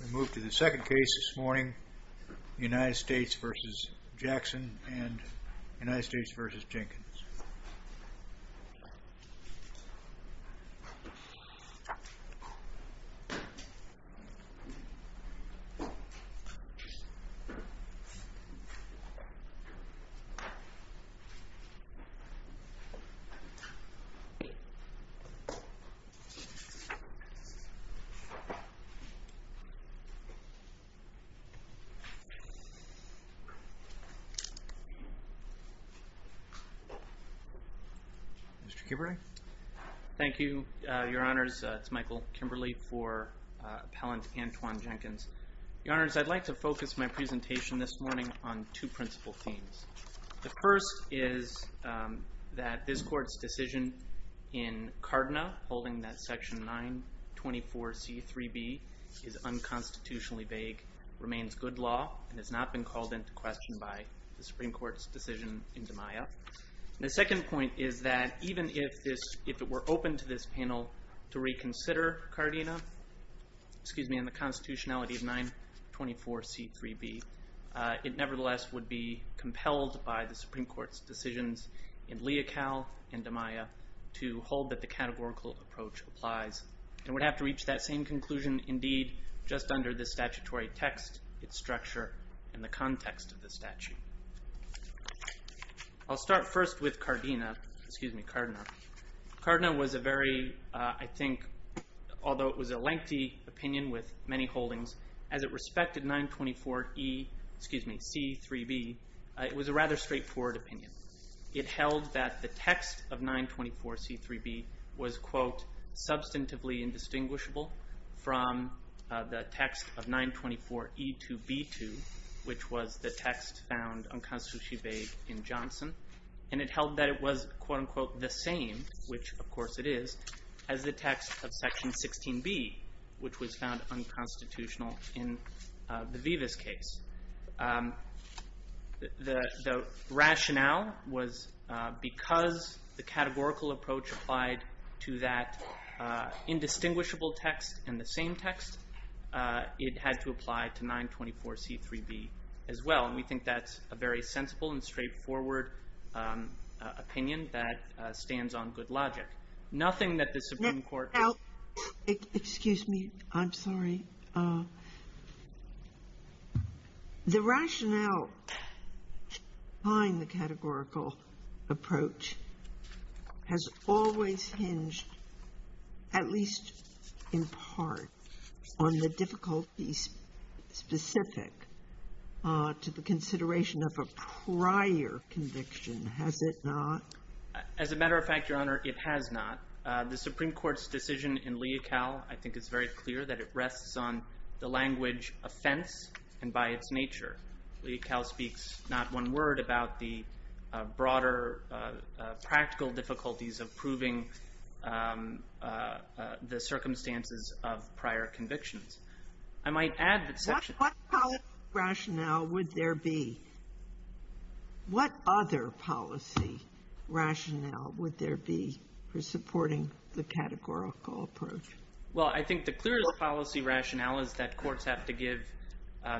We move to the second case this morning, United States v. Jackson and United States v. Jenkins. Michael Kimberly Thank you, your honors. It's Michael Kimberly for appellant Antoine Jenkins. Your honors, I'd like to focus my presentation this morning on two principal themes. The first is that this court's decision in Cardina, holding that section 924C3B is unconstitutionally vague, remains good law and has not been called into question by the Supreme Court's decision in DiMaia. The second point is that even if it were open to this panel to reconsider Cardina, excuse me, and the constitutionality of 924C3B, it nevertheless would be compelled by the Supreme Court's decisions in Leocal and DiMaia to hold that the categorical approach applies. It would have to reach that same conclusion indeed just under the statutory text, its structure, and the context of the statute. I'll start first with Cardina, excuse me, Cardina. Cardina was a very, I think, although it was a lengthy opinion with many holdings, as it respected 924E, excuse me, C3B, it was a rather straightforward opinion. It held that the text of 924C3B was, quote, substantively indistinguishable from the text of 924E2B2, which was the text found unconstitutionally vague in Johnson. And it held that it was, quote, unquote, the same, which of course it is, as the text of section 16B, which was found unconstitutional in the Vivas case. The rationale was because the categorical approach applied to that indistinguishable text and the same text, it had to apply to 924C3B as well. And we think that's a very sensible and straightforward opinion that stands on good logic. Nothing that the Supreme Court can do. Now, excuse me. I'm sorry. The rationale behind the categorical approach has always hinged, at least in part, on the difficulties specific to the consideration of a prior conviction, has it not? As a matter of fact, Your Honor, it has not. The Supreme Court's decision in Leocal, I think, is very clear that it rests on the language offense and by its nature. Leocal speaks not one word about the broader practical difficulties of proving the circumstances of prior convictions. I might add that section — What policy rationale would there be? What other policy rationale would there be for supporting the categorical approach? Well, I think the clearest policy rationale is that courts have to give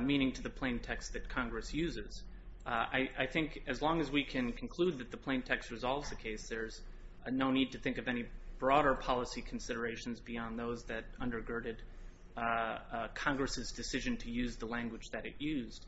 meaning to the plain text that Congress uses. I think as long as we can conclude that the plain text resolves the case, there's no need to think of any broader policy considerations beyond those that undergirded Congress's decision to use the language that it used.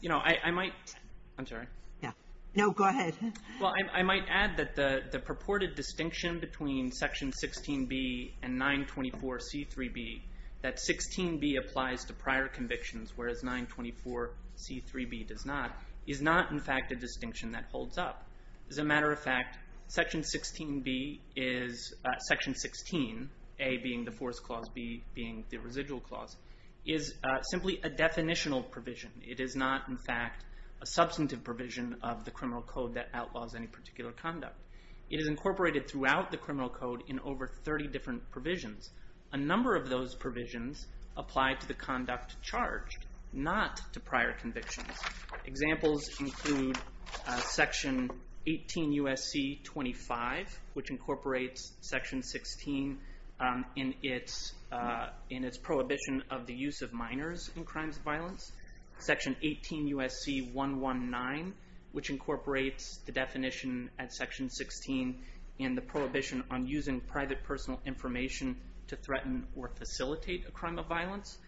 You know, I might — I'm sorry. Yeah. No, go ahead. Well, I might add that the purported distinction between section 16B and 924C3B, that 16B applies to prior convictions, whereas 924C3B does not, is not, in fact, a distinction that holds up. As a matter of fact, section 16B is — section 16, A being the force clause, B being the residual clause, is simply a definitional provision. It is not, in fact, a substantive provision of the criminal code that outlaws any particular conduct. It is incorporated throughout the criminal code in over 30 different provisions. A number of those provisions apply to the conduct charged, not to prior convictions. Examples include section 18 U.S.C. 25, which incorporates section 16 in its prohibition of the use of minors in crimes of violence. Section 18 U.S.C. 119, which incorporates the definition at section 16 in the prohibition on using private personal information to threaten or facilitate a crime of violence.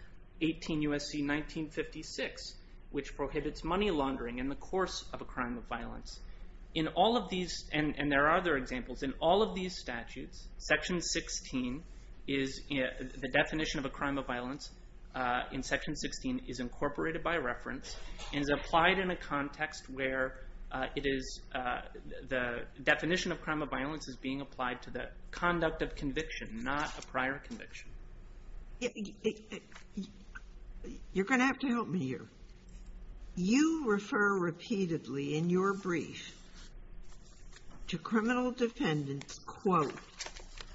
18 U.S.C. 1956, which prohibits money laundering in the course of a crime of violence. In all of these — and there are other examples — in all of these statutes, section 16 is — the definition of a crime of violence in section 16 is incorporated by reference and is applied in a context where it is — the definition of crime of violence is being applied to the conduct of conviction, not a prior conviction. Sotomayor, you're going to have to help me here. You refer repeatedly in your brief to criminal defendants, quote,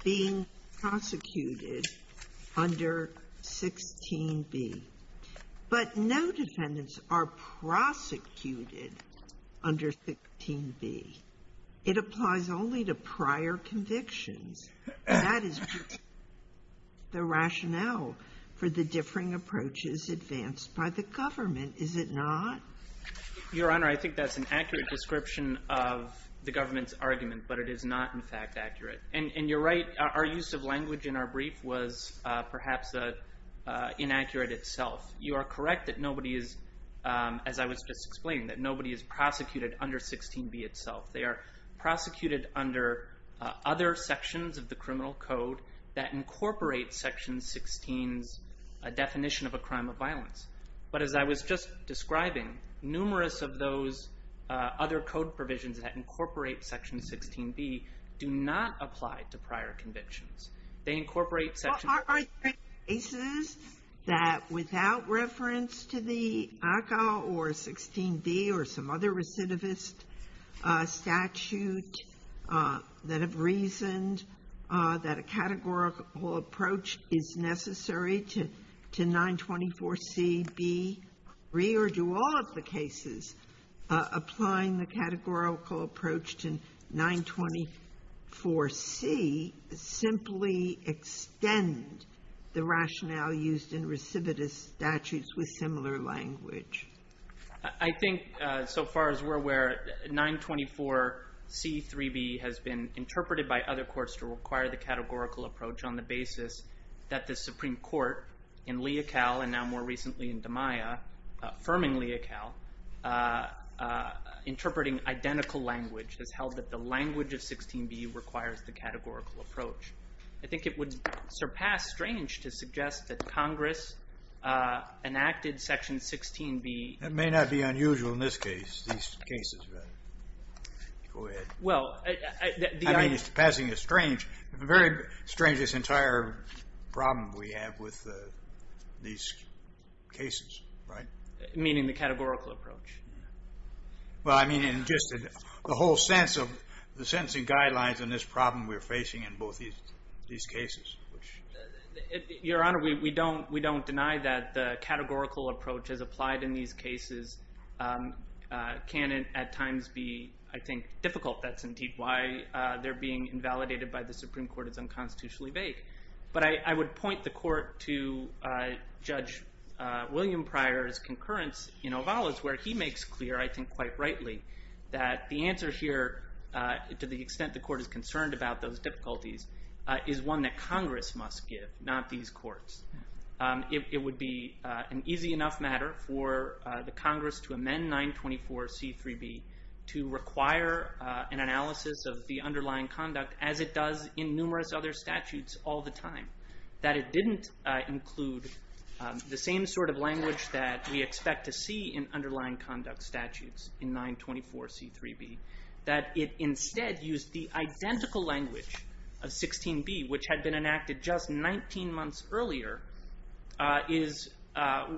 being prosecuted under 16b. But no defendants are prosecuted under 16b. It applies only to prior convictions. That is the rationale for the differing approaches advanced by the government, is it not? Your Honor, I think that's an accurate description of the government's argument, but it is not, in fact, accurate. And you're right. Our use of language in our brief was perhaps inaccurate itself. You are correct that nobody is, as I was just explaining, that nobody is prosecuted under 16b itself. They are prosecuted under other sections of the criminal code that incorporate section 16's definition of a crime of violence. But as I was just describing, numerous of those other code provisions that incorporate section 16b do not apply to prior convictions. They incorporate section — Are there cases that, without reference to the ACA or 16b or some other recidivist statute, that have reasoned that a categorical approach is necessary to 924cb3, or do all of the cases applying the categorical approach to 924c simply extend the rationale used in recidivist statutes with similar language? I think, so far as we're aware, 924c3b has been interpreted by other courts to require the categorical approach on the basis that the Supreme Court, in Leocal and now more recently in DeMaia, affirming Leocal, interpreting identical language has held that the language of 16b requires the categorical approach. I think it would surpass strange to suggest that Congress enacted section 16b — That may not be unusual in this case, these cases. Go ahead. Well, I — I mean, surpassing is strange. The very strangest entire problem we have with these cases, right? Meaning the categorical approach. Well, I mean, in just the whole sense of the sentencing guidelines in this problem we're facing in both these cases, which — Your Honor, we don't deny that the categorical approach is applied in these cases. It can at times be, I think, difficult. That's indeed why they're being invalidated by the Supreme Court. It's unconstitutionally vague. But I would point the Court to Judge William Pryor's concurrence in Ovalis, where he makes clear, I think quite rightly, that the answer here, to the extent the Court is concerned about those difficulties, is one that Congress must give, not these courts. It would be an easy enough matter for the Congress to amend 924c3b to require an analysis of the underlying conduct, as it does in numerous other statutes all the time. That it didn't include the same sort of language that we expect to see in underlying conduct statutes in 924c3b. That it instead used the identical language of 16b, which had been enacted just 19 months earlier, is,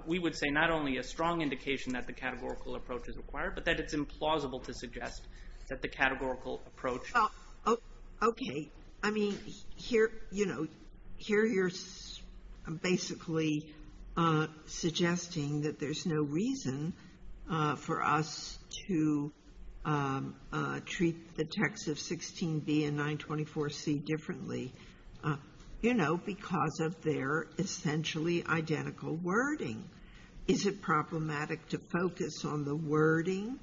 we would say, not only a strong indication that the categorical approach is required, but that it's implausible to suggest that the categorical approach —— treat the text of 16b and 924c differently, you know, because of their essentially identical wording. Is it problematic to focus on the wording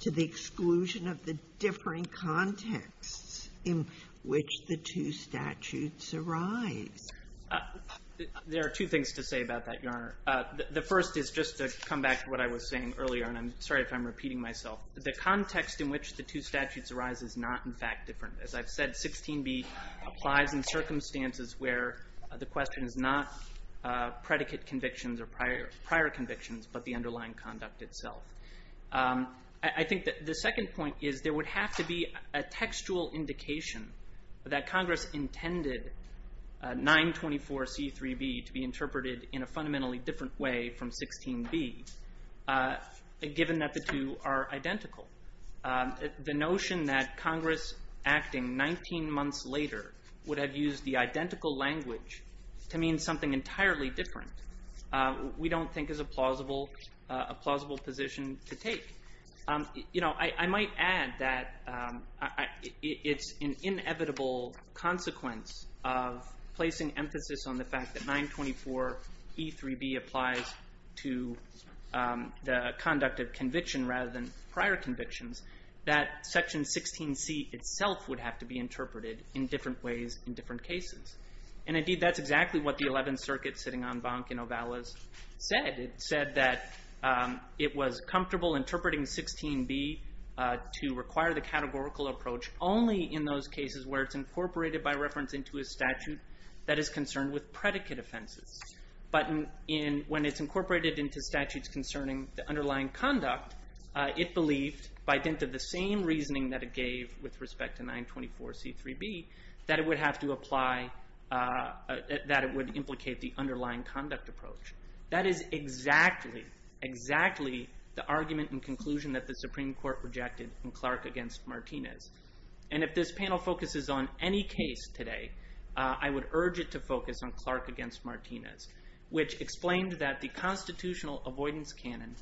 to the exclusion of the differing contexts in which the two statutes arise? There are two things to say about that, Your Honor. The first is just to come back to what I was saying earlier, and I'm sorry if I'm repeating myself. The context in which the two statutes arise is not, in fact, different. As I've said, 16b applies in circumstances where the question is not predicate convictions or prior convictions, but the underlying conduct itself. I think that the second point is there would have to be a textual indication that Congress intended 924c3b to be interpreted in a fundamentally different way from 16b, given that the two are identical. The notion that Congress acting 19 months later would have used the identical language to mean something entirely different, we don't think is a plausible position to take. You know, I might add that it's an inevitable consequence of placing emphasis on the fact that 924e3b applies to the conduct of conviction rather than prior convictions, that Section 16c itself would have to be interpreted in different ways in different cases. And, indeed, that's exactly what the Eleventh Circuit sitting on Bank and Ovalis said. It said that it was comfortable interpreting 16b to require the categorical approach only in those cases where it's incorporated by reference into a statute that is concerned with predicate offenses. But when it's incorporated into statutes concerning the underlying conduct, it believed, by dint of the same reasoning that it gave with respect to 924c3b, that it would have to apply, that it would implicate the underlying conduct approach. That is exactly, exactly the argument and conclusion that the Supreme Court rejected in Clark v. Martinez. And if this panel focuses on any case today, I would urge it to focus on Clark v. Martinez, which explained that the constitutional avoidance canon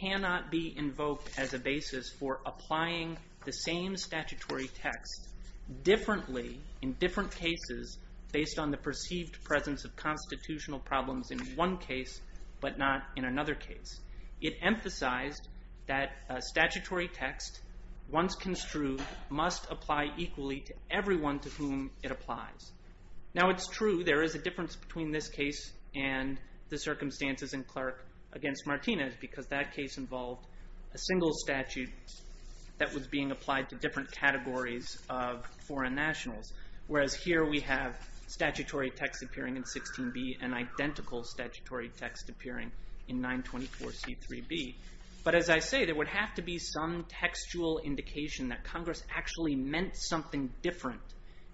cannot be invoked as a basis for applying the same statutory text differently in different cases based on the perceived presence of constitutional problems in one case, but not in another case. It emphasized that a statutory text, once construed, must apply equally to everyone to whom it applies. Now, it's true there is a difference between this case and the circumstances in Clark v. Martinez because that case involved a single statute that was being applied to different categories of foreign nationals, whereas here we have statutory text appearing in 16b and identical statutory text appearing in 924c3b. But as I say, there would have to be some textual indication that Congress actually meant something different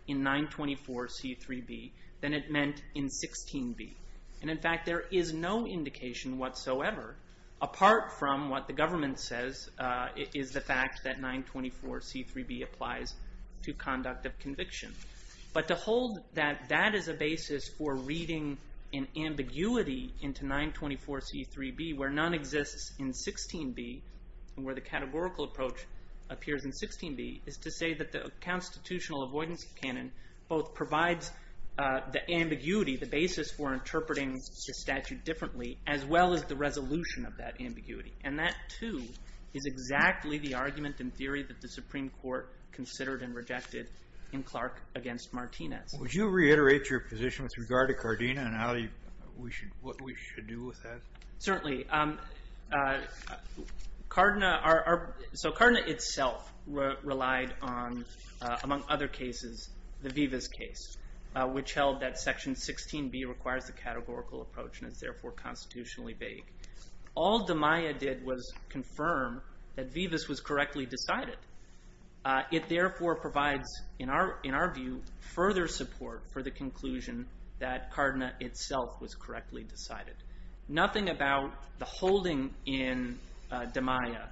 in 924c3b than it meant in 16b. And in fact, there is no indication whatsoever, apart from what the government says, is the fact that 924c3b applies to conduct of conviction. But to hold that that is a basis for reading an ambiguity into 924c3b where none exists in 16b, where the categorical approach appears in 16b, is to say that the constitutional avoidance canon both provides the ambiguity, the basis for interpreting the statute differently, as well as the resolution of that ambiguity. And that, too, is exactly the argument in theory that the Supreme Court considered and rejected in Clark v. Martinez. Would you reiterate your position with regard to Cardena and what we should do with that? Certainly. So Cardena itself relied on, among other cases, the Vivas case, which held that Section 16b requires the categorical approach and is therefore constitutionally vague. All DiMaia did was confirm that Vivas was correctly decided. It therefore provides, in our view, further support for the conclusion that Cardena itself was correctly decided. Nothing about the holding in DiMaia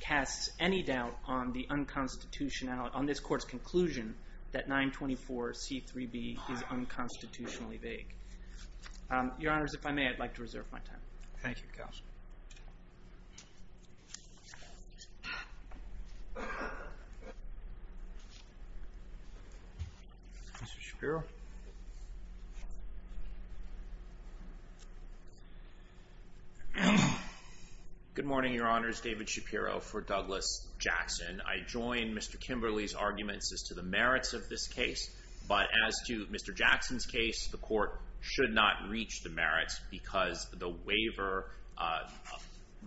casts any doubt on the unconstitutionality, on this Court's conclusion that 924c3b is unconstitutionally vague. Your Honors, if I may, I'd like to reserve my time. Thank you, Counsel. Mr. Shapiro? Good morning, Your Honors. David Shapiro for Douglas Jackson. I join Mr. Kimberly's arguments as to the merits of this case. But as to Mr. Jackson's case, the Court should not reach the merits because the waiver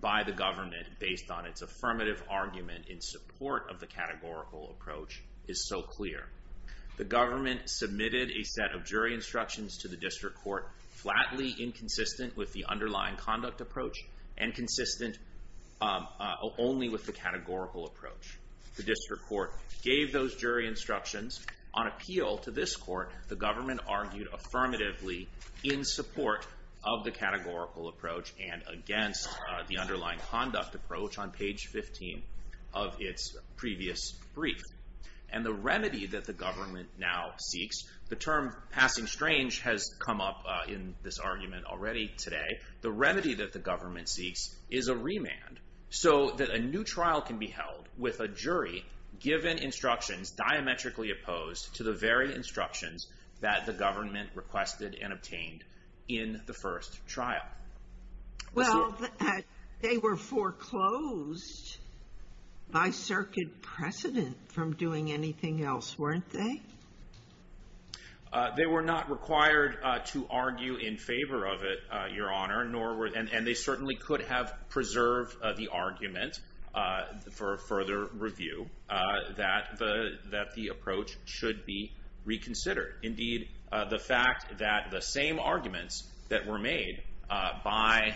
by the government, based on its affirmative argument in support of the categorical approach, is so clear. The government submitted a set of jury instructions to the District Court, flatly inconsistent with the underlying conduct approach and consistent only with the categorical approach. The District Court gave those jury instructions. On appeal to this Court, the government argued affirmatively in support of the categorical approach and against the underlying conduct approach on page 15 of its previous brief. And the remedy that the government now seeks, the term passing strange has come up in this argument already today. The remedy that the government seeks is a remand so that a new trial can be held with a jury given instructions diametrically opposed to the very instructions that the government requested and obtained in the first trial. Well, they were foreclosed by circuit precedent from doing anything else, weren't they? They were not required to argue in favor of it, Your Honor, and they certainly could have preserved the argument for further review that the approach should be reconsidered. Indeed, the fact that the same arguments that were made by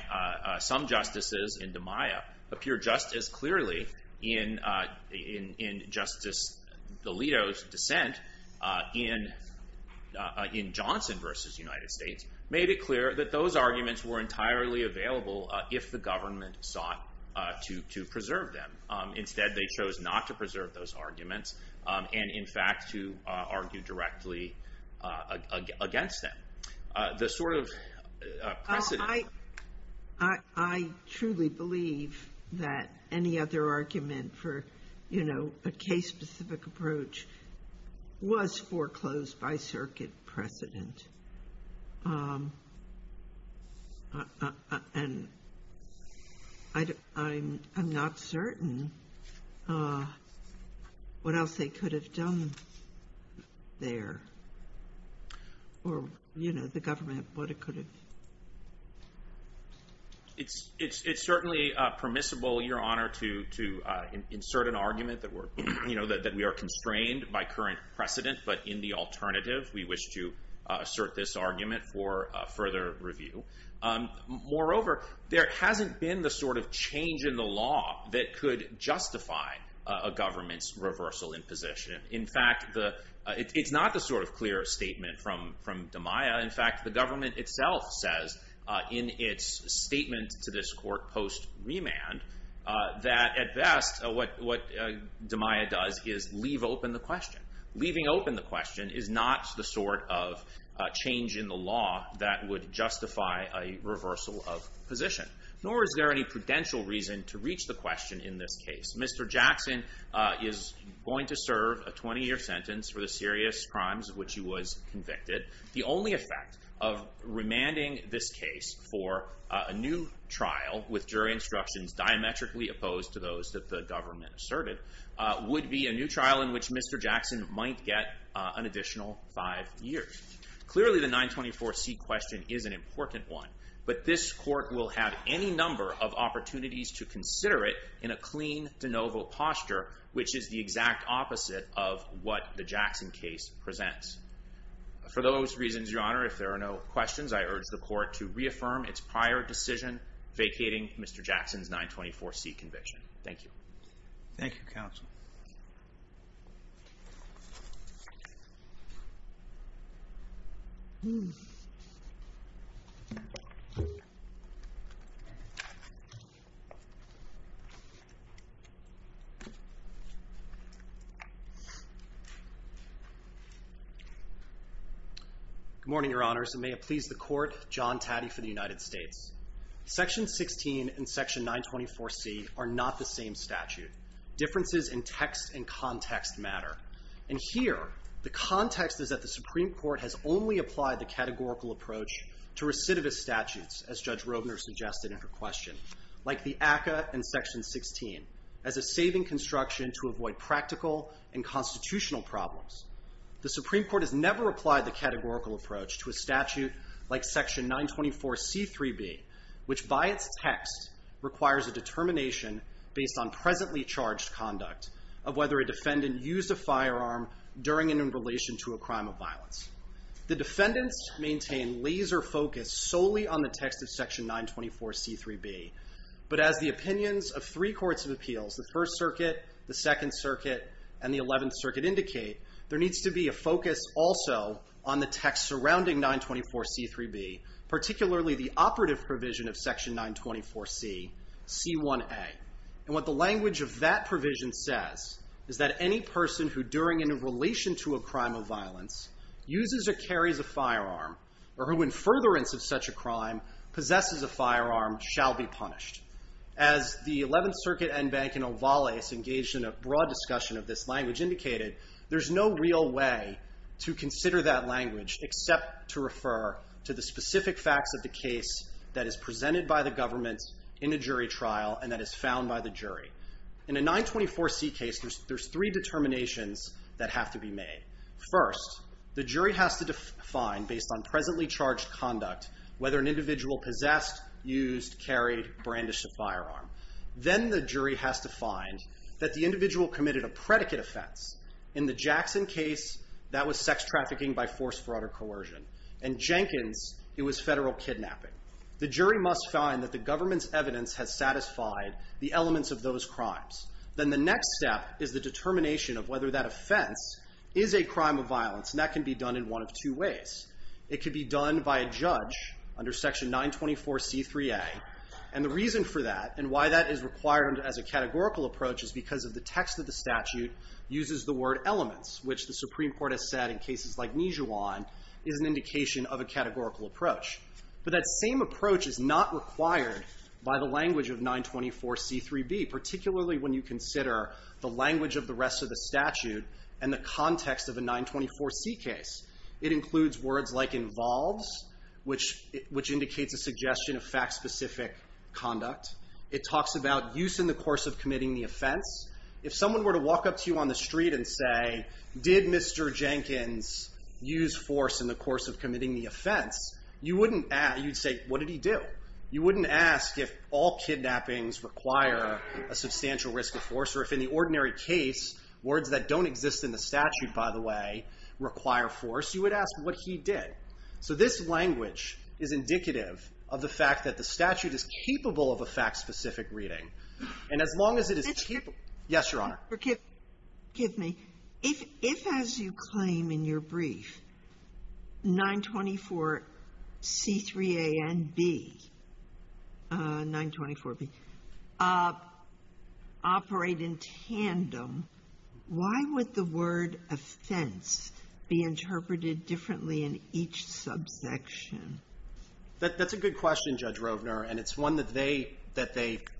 some justices in DiMaia appear just as clearly in Justice Alito's dissent in Johnson v. United States made it clear that those arguments were entirely available if the government sought to preserve them. Instead, they chose not to preserve those arguments and, in fact, to argue directly against them. The sort of precedent. I truly believe that any other argument for, you know, a case specific approach was foreclosed by circuit precedent. And I'm not certain what else they could have done there. Or, you know, the government, what it could have. It's certainly permissible, Your Honor, to insert an argument that we are constrained by current precedent, but in the alternative, we wish to assert this argument for further review. Moreover, there hasn't been the sort of change in the law that could justify a government's reversal in position. In fact, it's not the sort of clear statement from DiMaia. In fact, the government itself says in its statement to this court post-remand that at best what DiMaia does is leave open the question. Leaving open the question is not the sort of change in the law that would justify a reversal of position. Nor is there any prudential reason to reach the question in this case. Mr. Jackson is going to serve a 20-year sentence for the serious crimes of which he was convicted. The only effect of remanding this case for a new trial with jury instructions diametrically opposed to those that the government asserted would be a new trial in which Mr. Jackson might get an additional five years. Clearly, the 924C question is an important one. But this court will have any number of opportunities to consider it in a clean de novo posture, which is the exact opposite of what the Jackson case presents. For those reasons, Your Honor, if there are no questions, I urge the court to reaffirm its prior decision vacating Mr. Jackson's 924C conviction. Thank you. Thank you, Counsel. Good morning, Your Honors, and may it please the court, John Taddy for the United States. Section 16 and Section 924C are not the same statute. Differences in text and context matter. And here, the context is that the Supreme Court has only applied the categorical approach to recidivist statutes, as Judge Robner suggested in her question, like the ACCA and Section 16, as a saving construction to avoid practical and constitutional problems. The Supreme Court has never applied the categorical approach to a statute like Section 924C3b, which by its text requires a determination based on presently charged conduct of whether a defendant used a firearm during and in relation to a crime of violence. The defendants maintain laser focus solely on the text of Section 924C3b. But as the opinions of three courts of appeals, the First Circuit, the Second Circuit, and the Eleventh Circuit indicate, there needs to be a focus also on the text surrounding 924C3b, particularly the operative provision of Section 924C, C1a. And what the language of that provision says is that any person who, during and in relation to a crime of violence, uses or carries a firearm, or who in furtherance of such a crime possesses a firearm, shall be punished. As the Eleventh Circuit, Enbank, and Ovales engaged in a broad discussion of this language indicated, there's no real way to consider that language except to refer to the specific facts of the case that is presented by the government in a jury trial and that is found by the jury. In a 924C case, there's three determinations that have to be made. First, the jury has to define, based on presently charged conduct, whether an individual possessed, used, carried, brandished a firearm. Then the jury has to find that the individual committed a predicate offense. In the Jackson case, that was sex trafficking by force, fraud, or coercion. In Jenkins, it was federal kidnapping. The jury must find that the government's evidence has satisfied the elements of those crimes. Then the next step is the determination of whether that offense is a crime of violence, and that can be done in one of two ways. It could be done by a judge under Section 924C3A, and the reason for that and why that is required as a categorical approach is because of the text of the statute uses the word elements, which the Supreme Court has said in cases like Nijuan is an indication of a categorical approach. But that same approach is not required by the language of 924C3B, particularly when you consider the language of the rest of the statute and the context of a 924C case. It includes words like involves, which indicates a suggestion of fact-specific conduct. It talks about use in the course of committing the offense. If someone were to walk up to you on the street and say, did Mr. Jenkins use force in the course of committing the offense, you'd say, what did he do? You wouldn't ask if all kidnappings require a substantial risk of force or if in the ordinary case, words that don't exist in the statute, by the way, require force. You would ask what he did. So this language is indicative of the fact that the statute is capable of a fact-specific reading. And as long as it is capable. Yes, Your Honor. Forgive me. If, as you claim in your brief, 924C3A and B, 924B, operate in tandem, why would the word offense be interpreted differently in each subsection? That's a good question, Judge Rovner, and it's one that they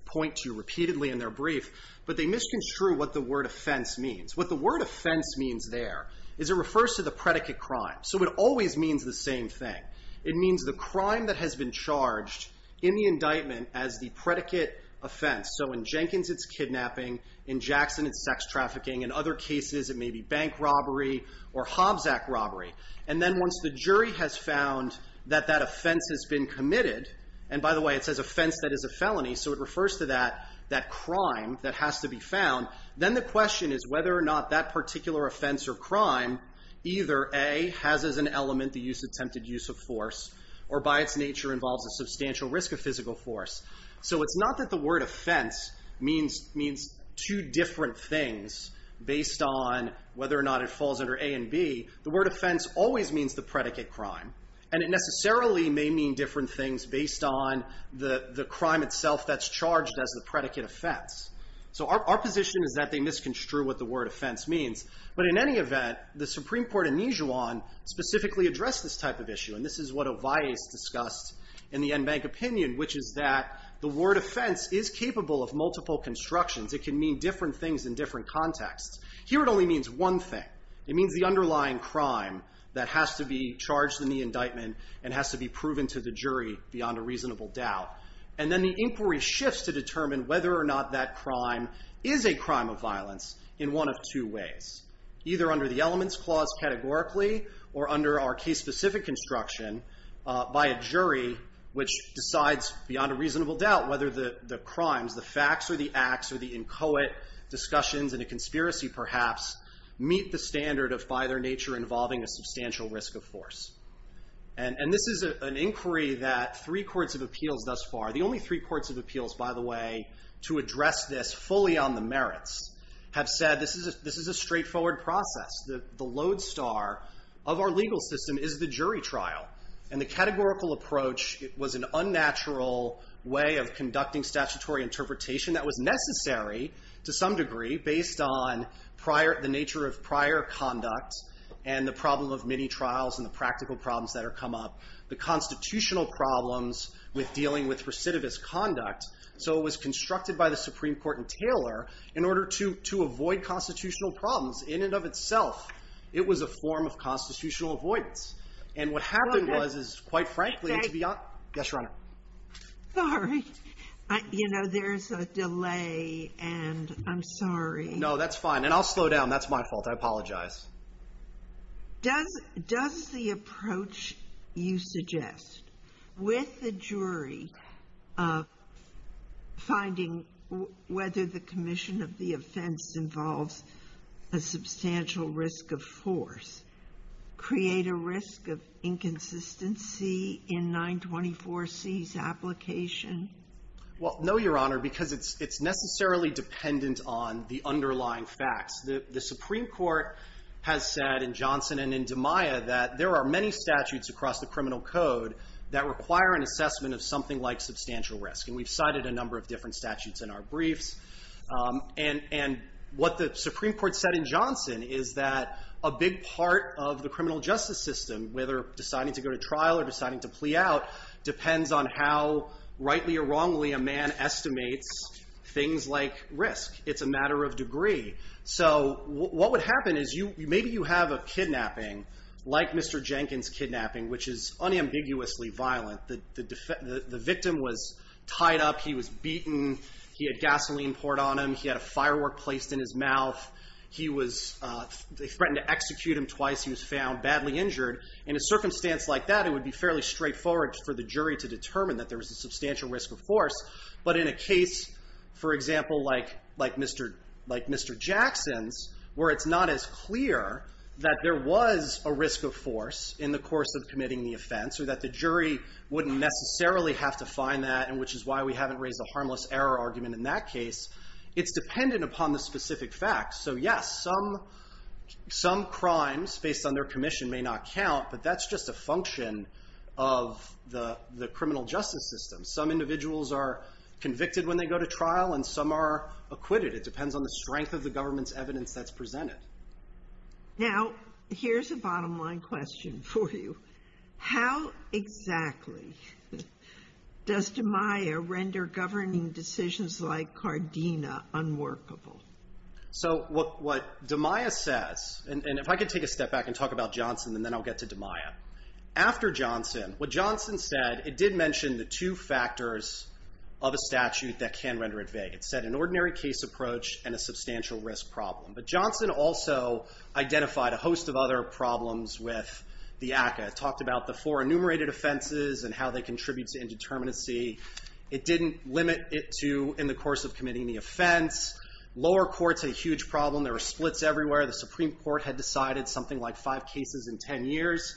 point to repeatedly in their brief. But they misconstrue what the word offense means. What the word offense means there is it refers to the predicate crime. So it always means the same thing. It means the crime that has been charged in the indictment as the predicate offense. So in Jenkins, it's kidnapping. In Jackson, it's sex trafficking. In other cases, it may be bank robbery or Hobbs Act robbery. And then once the jury has found that that offense has been committed, and by the way, it says offense, that is a felony, so it refers to that crime that has to be found, then the question is whether or not that particular offense or crime, either A, has as an element the attempted use of force, or by its nature involves a substantial risk of physical force. So it's not that the word offense means two different things based on whether or not it falls under A and B. The word offense always means the predicate crime. And it necessarily may mean different things based on the crime itself that's charged as the predicate offense. So our position is that they misconstrue what the word offense means. But in any event, the Supreme Court in Nijuan specifically addressed this type of issue. And this is what Ovais discussed in the NBank opinion, which is that the word offense is capable of multiple constructions. It can mean different things in different contexts. Here it only means one thing. It means the underlying crime that has to be charged in the indictment and has to be proven to the jury beyond a reasonable doubt. And then the inquiry shifts to determine whether or not that crime is a crime of violence in one of two ways, either under the elements clause categorically or under our case-specific construction by a jury, which decides beyond a reasonable doubt whether the crimes, the facts or the acts or the inchoate discussions in a conspiracy perhaps, meet the standard of by their nature involving a substantial risk of force. And this is an inquiry that three courts of appeals thus far, the only three courts of appeals, by the way, to address this fully on the merits, have said this is a straightforward process. The lodestar of our legal system is the jury trial. And the categorical approach was an unnatural way of conducting statutory interpretation that was necessary to some degree based on the nature of prior conduct and the problem of many trials and the practical problems that have come up, the constitutional problems with dealing with recidivist conduct. So it was constructed by the Supreme Court and Taylor in order to avoid constitutional problems in and of itself. It was a form of constitutional avoidance. And what happened was, quite frankly, to be honest. Yes, Your Honor. Sorry. You know, there's a delay and I'm sorry. No, that's fine. And I'll slow down. That's my fault. I apologize. Does the approach you suggest with the jury finding whether the commission of the offense involves a substantial risk of force create a risk of inconsistency in 924C's application? Well, no, Your Honor, because it's necessarily dependent on the underlying facts. The Supreme Court has said in Johnson and in DiMaia that there are many statutes across the criminal code that require an assessment of something like substantial risk. And we've cited a number of different statutes in our briefs. And what the Supreme Court said in Johnson is that a big part of the criminal justice system, whether deciding to go to trial or deciding to plea out, depends on how rightly or wrongly a man estimates things like risk. It's a matter of degree. So what would happen is maybe you have a kidnapping like Mr. Jenkins' kidnapping, which is unambiguously violent. The victim was tied up. He was beaten. He had gasoline poured on him. He had a firework placed in his mouth. He was threatened to execute him twice. He was found badly injured. In a circumstance like that, it would be fairly straightforward for the jury to determine that there was a substantial risk of force. But in a case, for example, like Mr. Jackson's, where it's not as clear that there was a risk of force in the course of committing the offense or that the jury wouldn't necessarily have to find that, which is why we haven't raised a harmless error argument in that case, it's dependent upon the specific facts. So yes, some crimes based on their commission may not count, but that's just a function of the criminal justice system. Some individuals are convicted when they go to trial and some are acquitted. It depends on the strength of the government's evidence that's presented. Now, here's a bottom line question for you. How exactly does DMIA render governing decisions like CARDINA unworkable? So what DMIA says, and if I could take a step back and talk about Johnson, and then I'll get to DMIA. After Johnson, what Johnson said, it did mention the two factors of a statute that can render it vague. It said an ordinary case approach and a substantial risk problem. But Johnson also identified a host of other problems with the ACCA. It talked about the four enumerated offenses and how they contribute to indeterminacy. It didn't limit it to in the course of committing the offense. Lower courts had a huge problem. There were splits everywhere. The Supreme Court had decided something like five cases in ten years.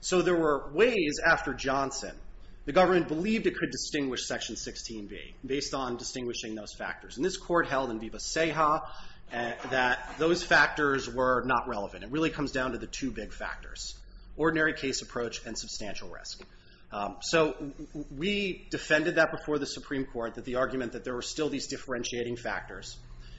So there were ways after Johnson the government believed it could distinguish Section 16B based on distinguishing those factors. And this court held in Viva Ceja that those factors were not relevant. It really comes down to the two big factors, ordinary case approach and substantial risk. So we defended that before the Supreme Court, that the argument that there were still these differentiating factors.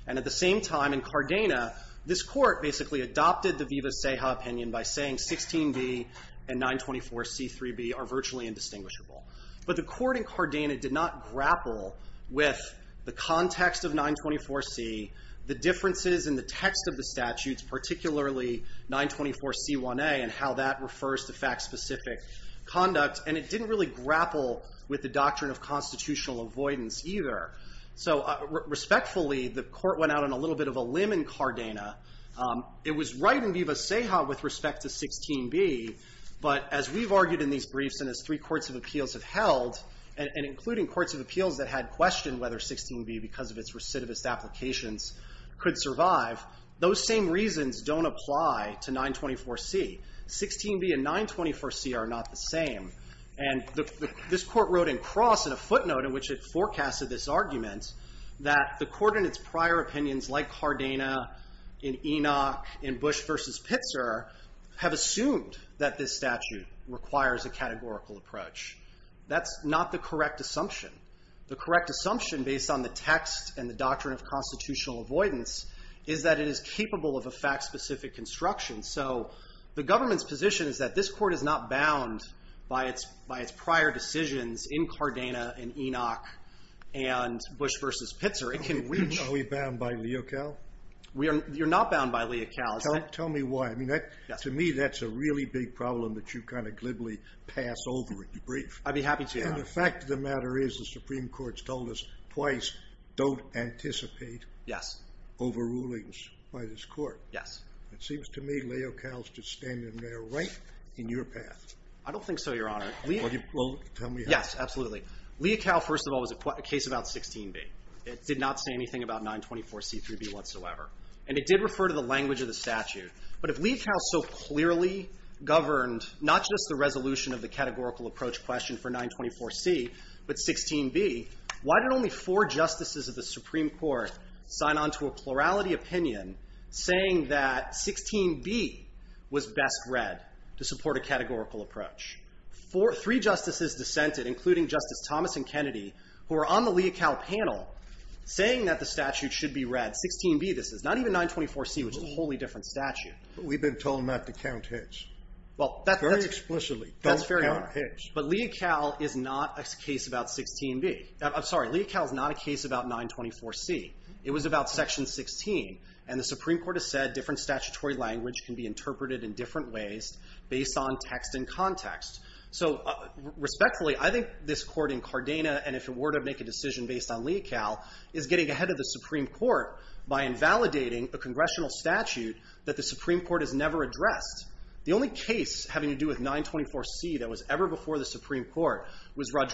And at the same time in Cardena, this court basically adopted the Viva Ceja opinion by saying 16B and 924C3B are virtually indistinguishable. But the court in Cardena did not grapple with the context of 924C, the differences in the text of the statutes, particularly 924C1A and how that refers to fact-specific conduct. And it didn't really grapple with the doctrine of constitutional avoidance either. So respectfully, the court went out on a little bit of a limb in Cardena. It was right in Viva Ceja with respect to 16B. But as we've argued in these briefs and as three courts of appeals have held, and including courts of appeals that had questioned whether 16B, because of its recidivist applications, could survive, those same reasons don't apply to 924C. 16B and 924C are not the same. And this court wrote in Cross in a footnote in which it forecasted this argument that the court in its prior opinions, like Cardena, in Enoch, in Bush versus Pitzer, have assumed that this statute requires a categorical approach. That's not the correct assumption. The correct assumption, based on the text and the doctrine of constitutional avoidance, is that it is capable of a fact-specific construction. So the government's position is that this court is not bound by its prior decisions in Cardena and Enoch and Bush versus Pitzer. It can reach. Are we bound by Leocal? You're not bound by Leocal. Tell me why. To me, that's a really big problem that you kind of glibly pass over in your brief. I'd be happy to. And the fact of the matter is the Supreme Court's told us twice, don't anticipate. Yes. Overrulings by this court. Yes. It seems to me Leocal's just standing there right in your path. I don't think so, Your Honor. Well, tell me how. Yes, absolutely. Leocal, first of all, was a case about 16b. It did not say anything about 924c3b whatsoever. And it did refer to the language of the statute. But if Leocal so clearly governed not just the resolution of the categorical approach question for 924c, but 16b, why did only four justices of the Supreme Court sign on to a plurality opinion saying that 16b was best read to support a categorical approach? Three justices dissented, including Justice Thomas and Kennedy, who are on the Leocal panel, saying that the statute should be read 16b. This is not even 924c, which is a wholly different statute. But we've been told not to count hits. Very explicitly, don't count hits. But Leocal is not a case about 16b. I'm sorry. Leocal is not a case about 924c. It was about section 16. And the Supreme Court has said different statutory language can be interpreted in different ways based on text and context. So respectfully, I think this court in Cardena, and if it were to make a decision based on Leocal, is getting ahead of the Supreme Court by invalidating a congressional statute that the Supreme Court has never addressed. The only case having to do with 924c that was ever before the Supreme Court was the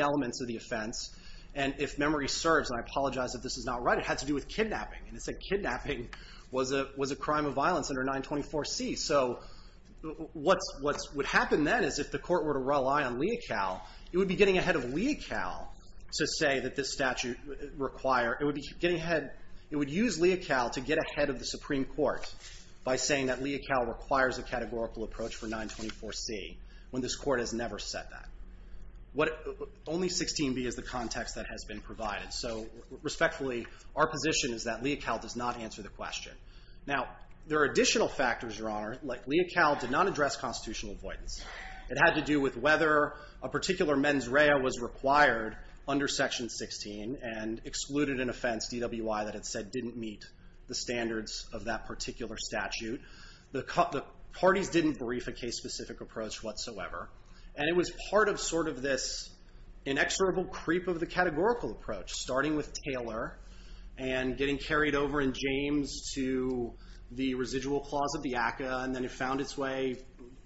elements of the offense. And if memory serves, and I apologize if this is not right, it had to do with kidnapping. And it said kidnapping was a crime of violence under 924c. So what would happen then is if the court were to rely on Leocal, it would be getting ahead of Leocal to say that this statute required – it would be getting ahead – it would use Leocal to get ahead of the Supreme Court by saying that Leocal requires a categorical approach for 924c, when this court has never said that. Only 16b is the context that has been provided. So respectfully, our position is that Leocal does not answer the question. Now, there are additional factors, Your Honor, like Leocal did not address constitutional avoidance. It had to do with whether a particular mens rea was required under Section 16 and excluded an offense, DWI, that it said didn't meet the standards of that particular statute. The parties didn't brief a case-specific approach whatsoever. And it was part of sort of this inexorable creep of the categorical approach, starting with Taylor and getting carried over in James to the residual clause of the ACCA, and then it found its way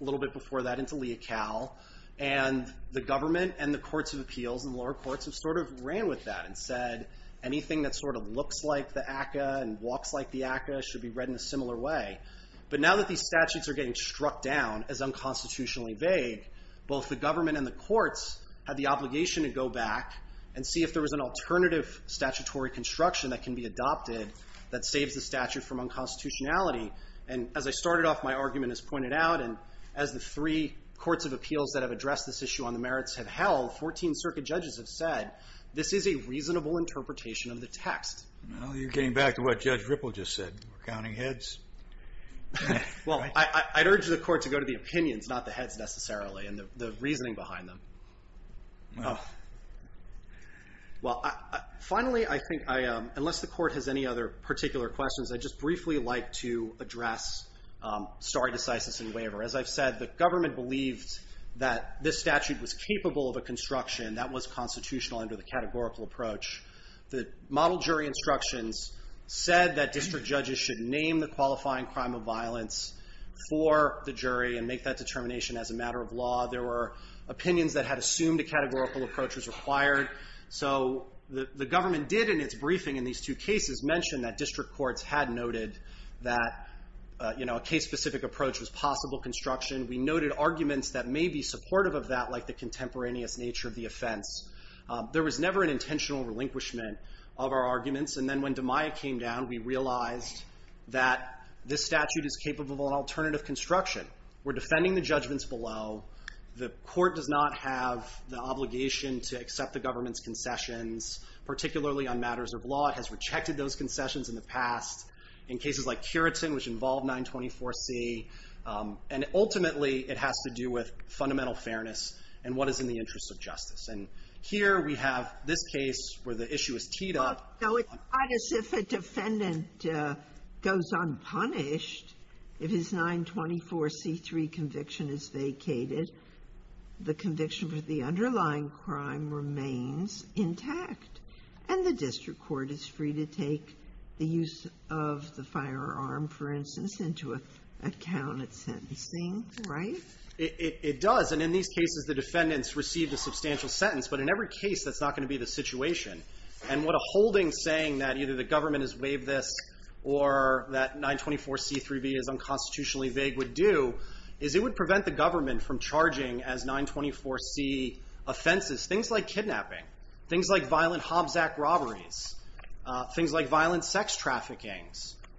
a little bit before that into Leocal. And the government and the courts of appeals and the lower courts have sort of ran with that and said anything that sort of looks like the ACCA and walks like the ACCA should be read in a similar way. But now that these statutes are getting struck down as unconstitutionally vague, both the government and the courts have the obligation to go back and see if there was an alternative statutory construction that can be adopted that saves the statute from unconstitutionality. And as I started off, my argument is pointed out, and as the three courts of appeals that have addressed this issue on the merits have held, 14 circuit judges have said this is a reasonable interpretation of the text. Well, you're getting back to what Judge Ripple just said. We're counting heads. Well, I'd urge the court to go to the opinions, not the heads necessarily, and the reasoning behind them. Well, finally, I think unless the court has any other particular questions, I'd just briefly like to address stare decisis and waiver. As I've said, the government believed that this statute was capable of a construction that was constitutional under the categorical approach. The model jury instructions said that district judges should name the qualifying crime of violence for the jury and make that determination as a matter of law. There were opinions that had assumed a categorical approach was required. So the government did in its briefing in these two cases mention that district courts had noted that a case-specific approach was possible construction. We noted arguments that may be supportive of that, like the contemporaneous nature of the offense. There was never an intentional relinquishment of our arguments. And then when DiMaio came down, we realized that this statute is capable of alternative construction. We're defending the judgments below. The court does not have the obligation to accept the government's concessions, particularly on matters of law. It has rejected those concessions in the past in cases like Curitin, which involved 924C. And ultimately, it has to do with fundamental fairness and what is in the Here we have this case where the issue is teed up. Sotomayor It's not as if a defendant goes unpunished. If his 924C3 conviction is vacated, the conviction for the underlying crime remains intact. And the district court is free to take the use of the firearm, for instance, into account at sentencing, right? It does. And in these cases, the defendants received a substantial sentence. But in every case, that's not going to be the situation. And what a holding saying that either the government has waived this or that 924C3b is unconstitutionally vague would do is it would prevent the government from charging as 924C offenses things like kidnapping, things like violent Hobbs Act robberies, things like violent sex trafficking,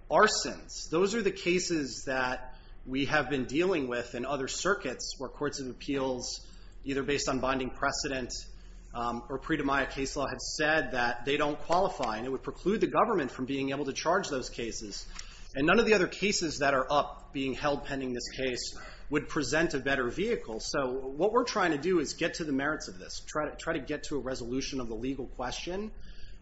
arsons. Those are the cases that we have been dealing with in other circuits where courts of appeals, either based on binding precedent or pre-Demiah case law, had said that they don't qualify. And it would preclude the government from being able to charge those cases. And none of the other cases that are up being held pending this case would present a better vehicle. So what we're trying to do is get to the merits of this, try to get to a resolution of the legal question.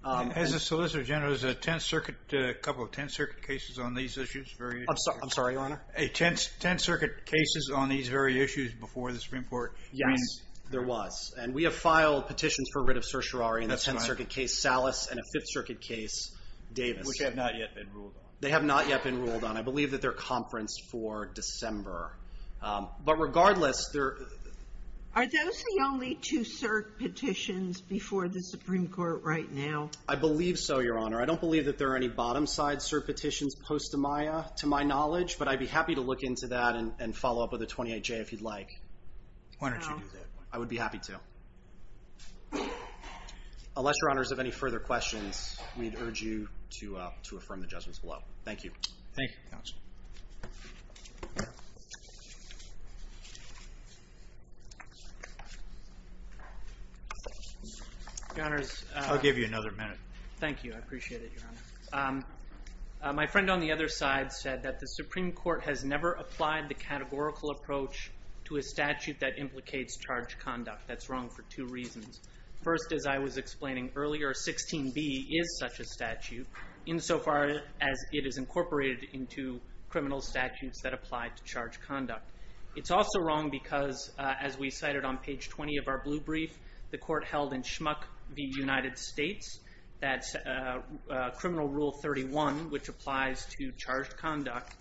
As a solicitor general, there's a Tenth Circuit, a couple of Tenth Circuit cases on these issues. I'm sorry, Your Honor. Tenth Circuit cases on these very issues before the Supreme Court. Yes. There was. And we have filed petitions for writ of certiorari in the Tenth Circuit case, Salas, and a Fifth Circuit case, Davis. Which have not yet been ruled on. They have not yet been ruled on. I believe that they're conferenced for December. But regardless, there are no petitions before the Supreme Court right now. I believe so, Your Honor. I don't believe that there are any bottom side cert petitions post-Demiah, to my knowledge. But I'd be happy to look into that and follow up with a 28-J if you'd like. Why don't you do that? I would be happy to. Unless Your Honors have any further questions, we'd urge you to affirm the judgments below. Thank you. Thank you, Counsel. I'll give you another minute. Thank you. I appreciate it, Your Honor. My friend on the other side said that the Supreme Court has never applied the categorical approach to a statute that implicates charge conduct. That's wrong for two reasons. First, as I was explaining earlier, 16b is such a statute, insofar as it is incorporated into criminal statutes that apply to charge conduct. It's also wrong because, as we cited on page 20 of our blue brief, the court held in Schmuck v. United States that criminal rule 31, which applies to charge conduct,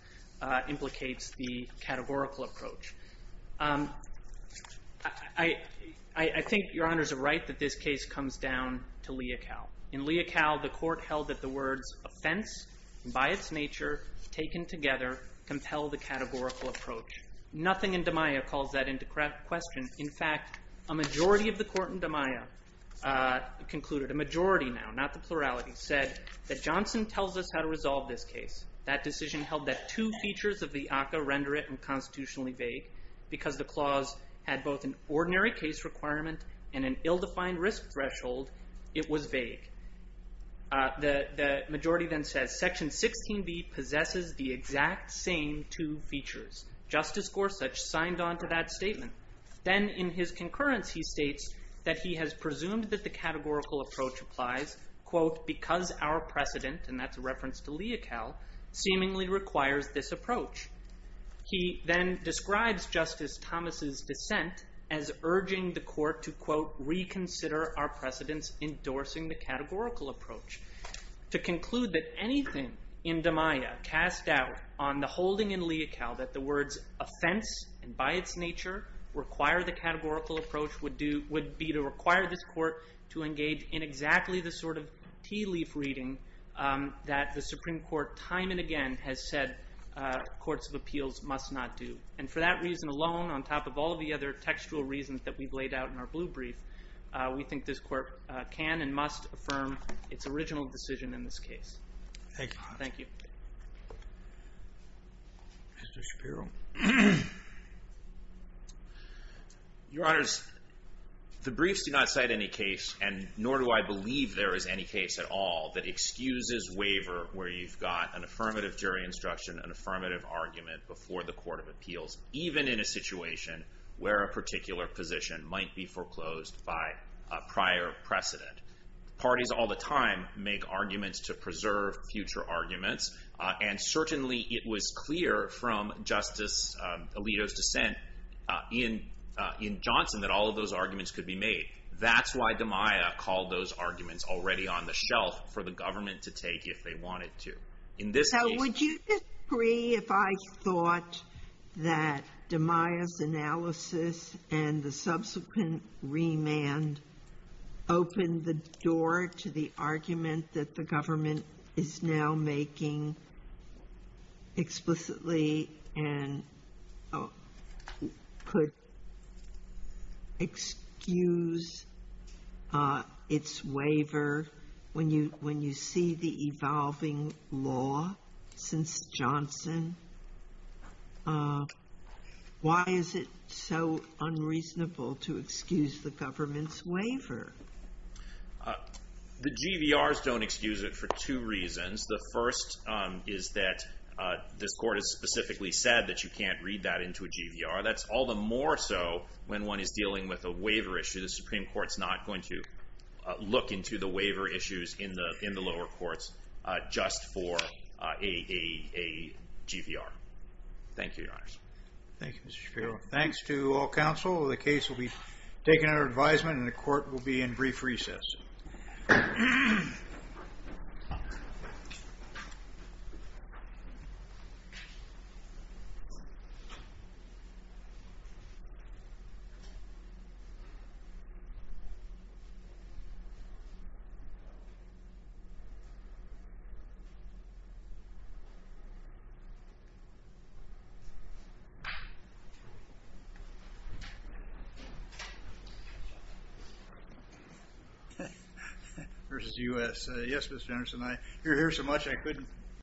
implicates the categorical approach. I think Your Honors are right that this case comes down to Leocal. In Leocal, the court held that the words offense, by its nature, taken together, compel the categorical approach. Nothing in Demiah calls that into question. In fact, a majority of the court in Demiah concluded, a majority now, not the plurality, said that Johnson tells us how to resolve this case. That decision held that two features of the ACCA render it unconstitutionally vague because the clause had both an ordinary case requirement and an ill-defined risk threshold. It was vague. The majority then says, Section 16b possesses the exact same two features. Justice Gorsuch signed on to that statement. Then in his concurrence, he states that he has presumed that the categorical approach applies, quote, because our precedent, and that's a reference to Leocal, seemingly requires this approach. He then describes Justice Thomas' dissent as urging the court to, quote, reconsider our precedents endorsing the categorical approach. To conclude that anything in Demiah cast doubt on the holding in Leocal that the words offense and by its nature require the categorical approach would be to require this court to engage in exactly the sort of tea leaf reading that the Supreme Court time and again has said courts of appeals must not do. And for that reason alone, on top of all of the other textual reasons that we've laid out in our blue brief, we think this court can and must affirm its original decision in this case. Thank you. Thank you. Mr. Shapiro. Your Honors, the briefs do not cite any case, and nor do I believe there is any case at all that excuses waiver where you've got an affirmative jury instruction, an affirmative argument before the court of appeals, even in a situation where a particular position might be foreclosed by a prior precedent. Parties all the time make arguments to preserve future arguments, and certainly it was clear from Justice Alito's dissent in Johnson that all of those arguments could be made. That's why Demiah called those arguments already on the shelf for the government to take if they wanted to. So would you disagree if I thought that Demiah's analysis and the subsequent remand opened the door to the argument that the government is now making explicitly and could excuse its waiver when you see the evolving law since Johnson? Why is it so unreasonable to excuse the government's waiver? The GVRs don't excuse it for two reasons. The first is that this court has specifically said that you can't read that into a GVR. That's all the more so when one is dealing with a waiver issue. The Supreme Court's not going to look into the waiver issues in the lower courts just for a GVR. Thank you, Your Honors. Thank you, Mr. Shapiro. Thanks to all counsel. The case will be taken under advisement, and the court will be in brief recess.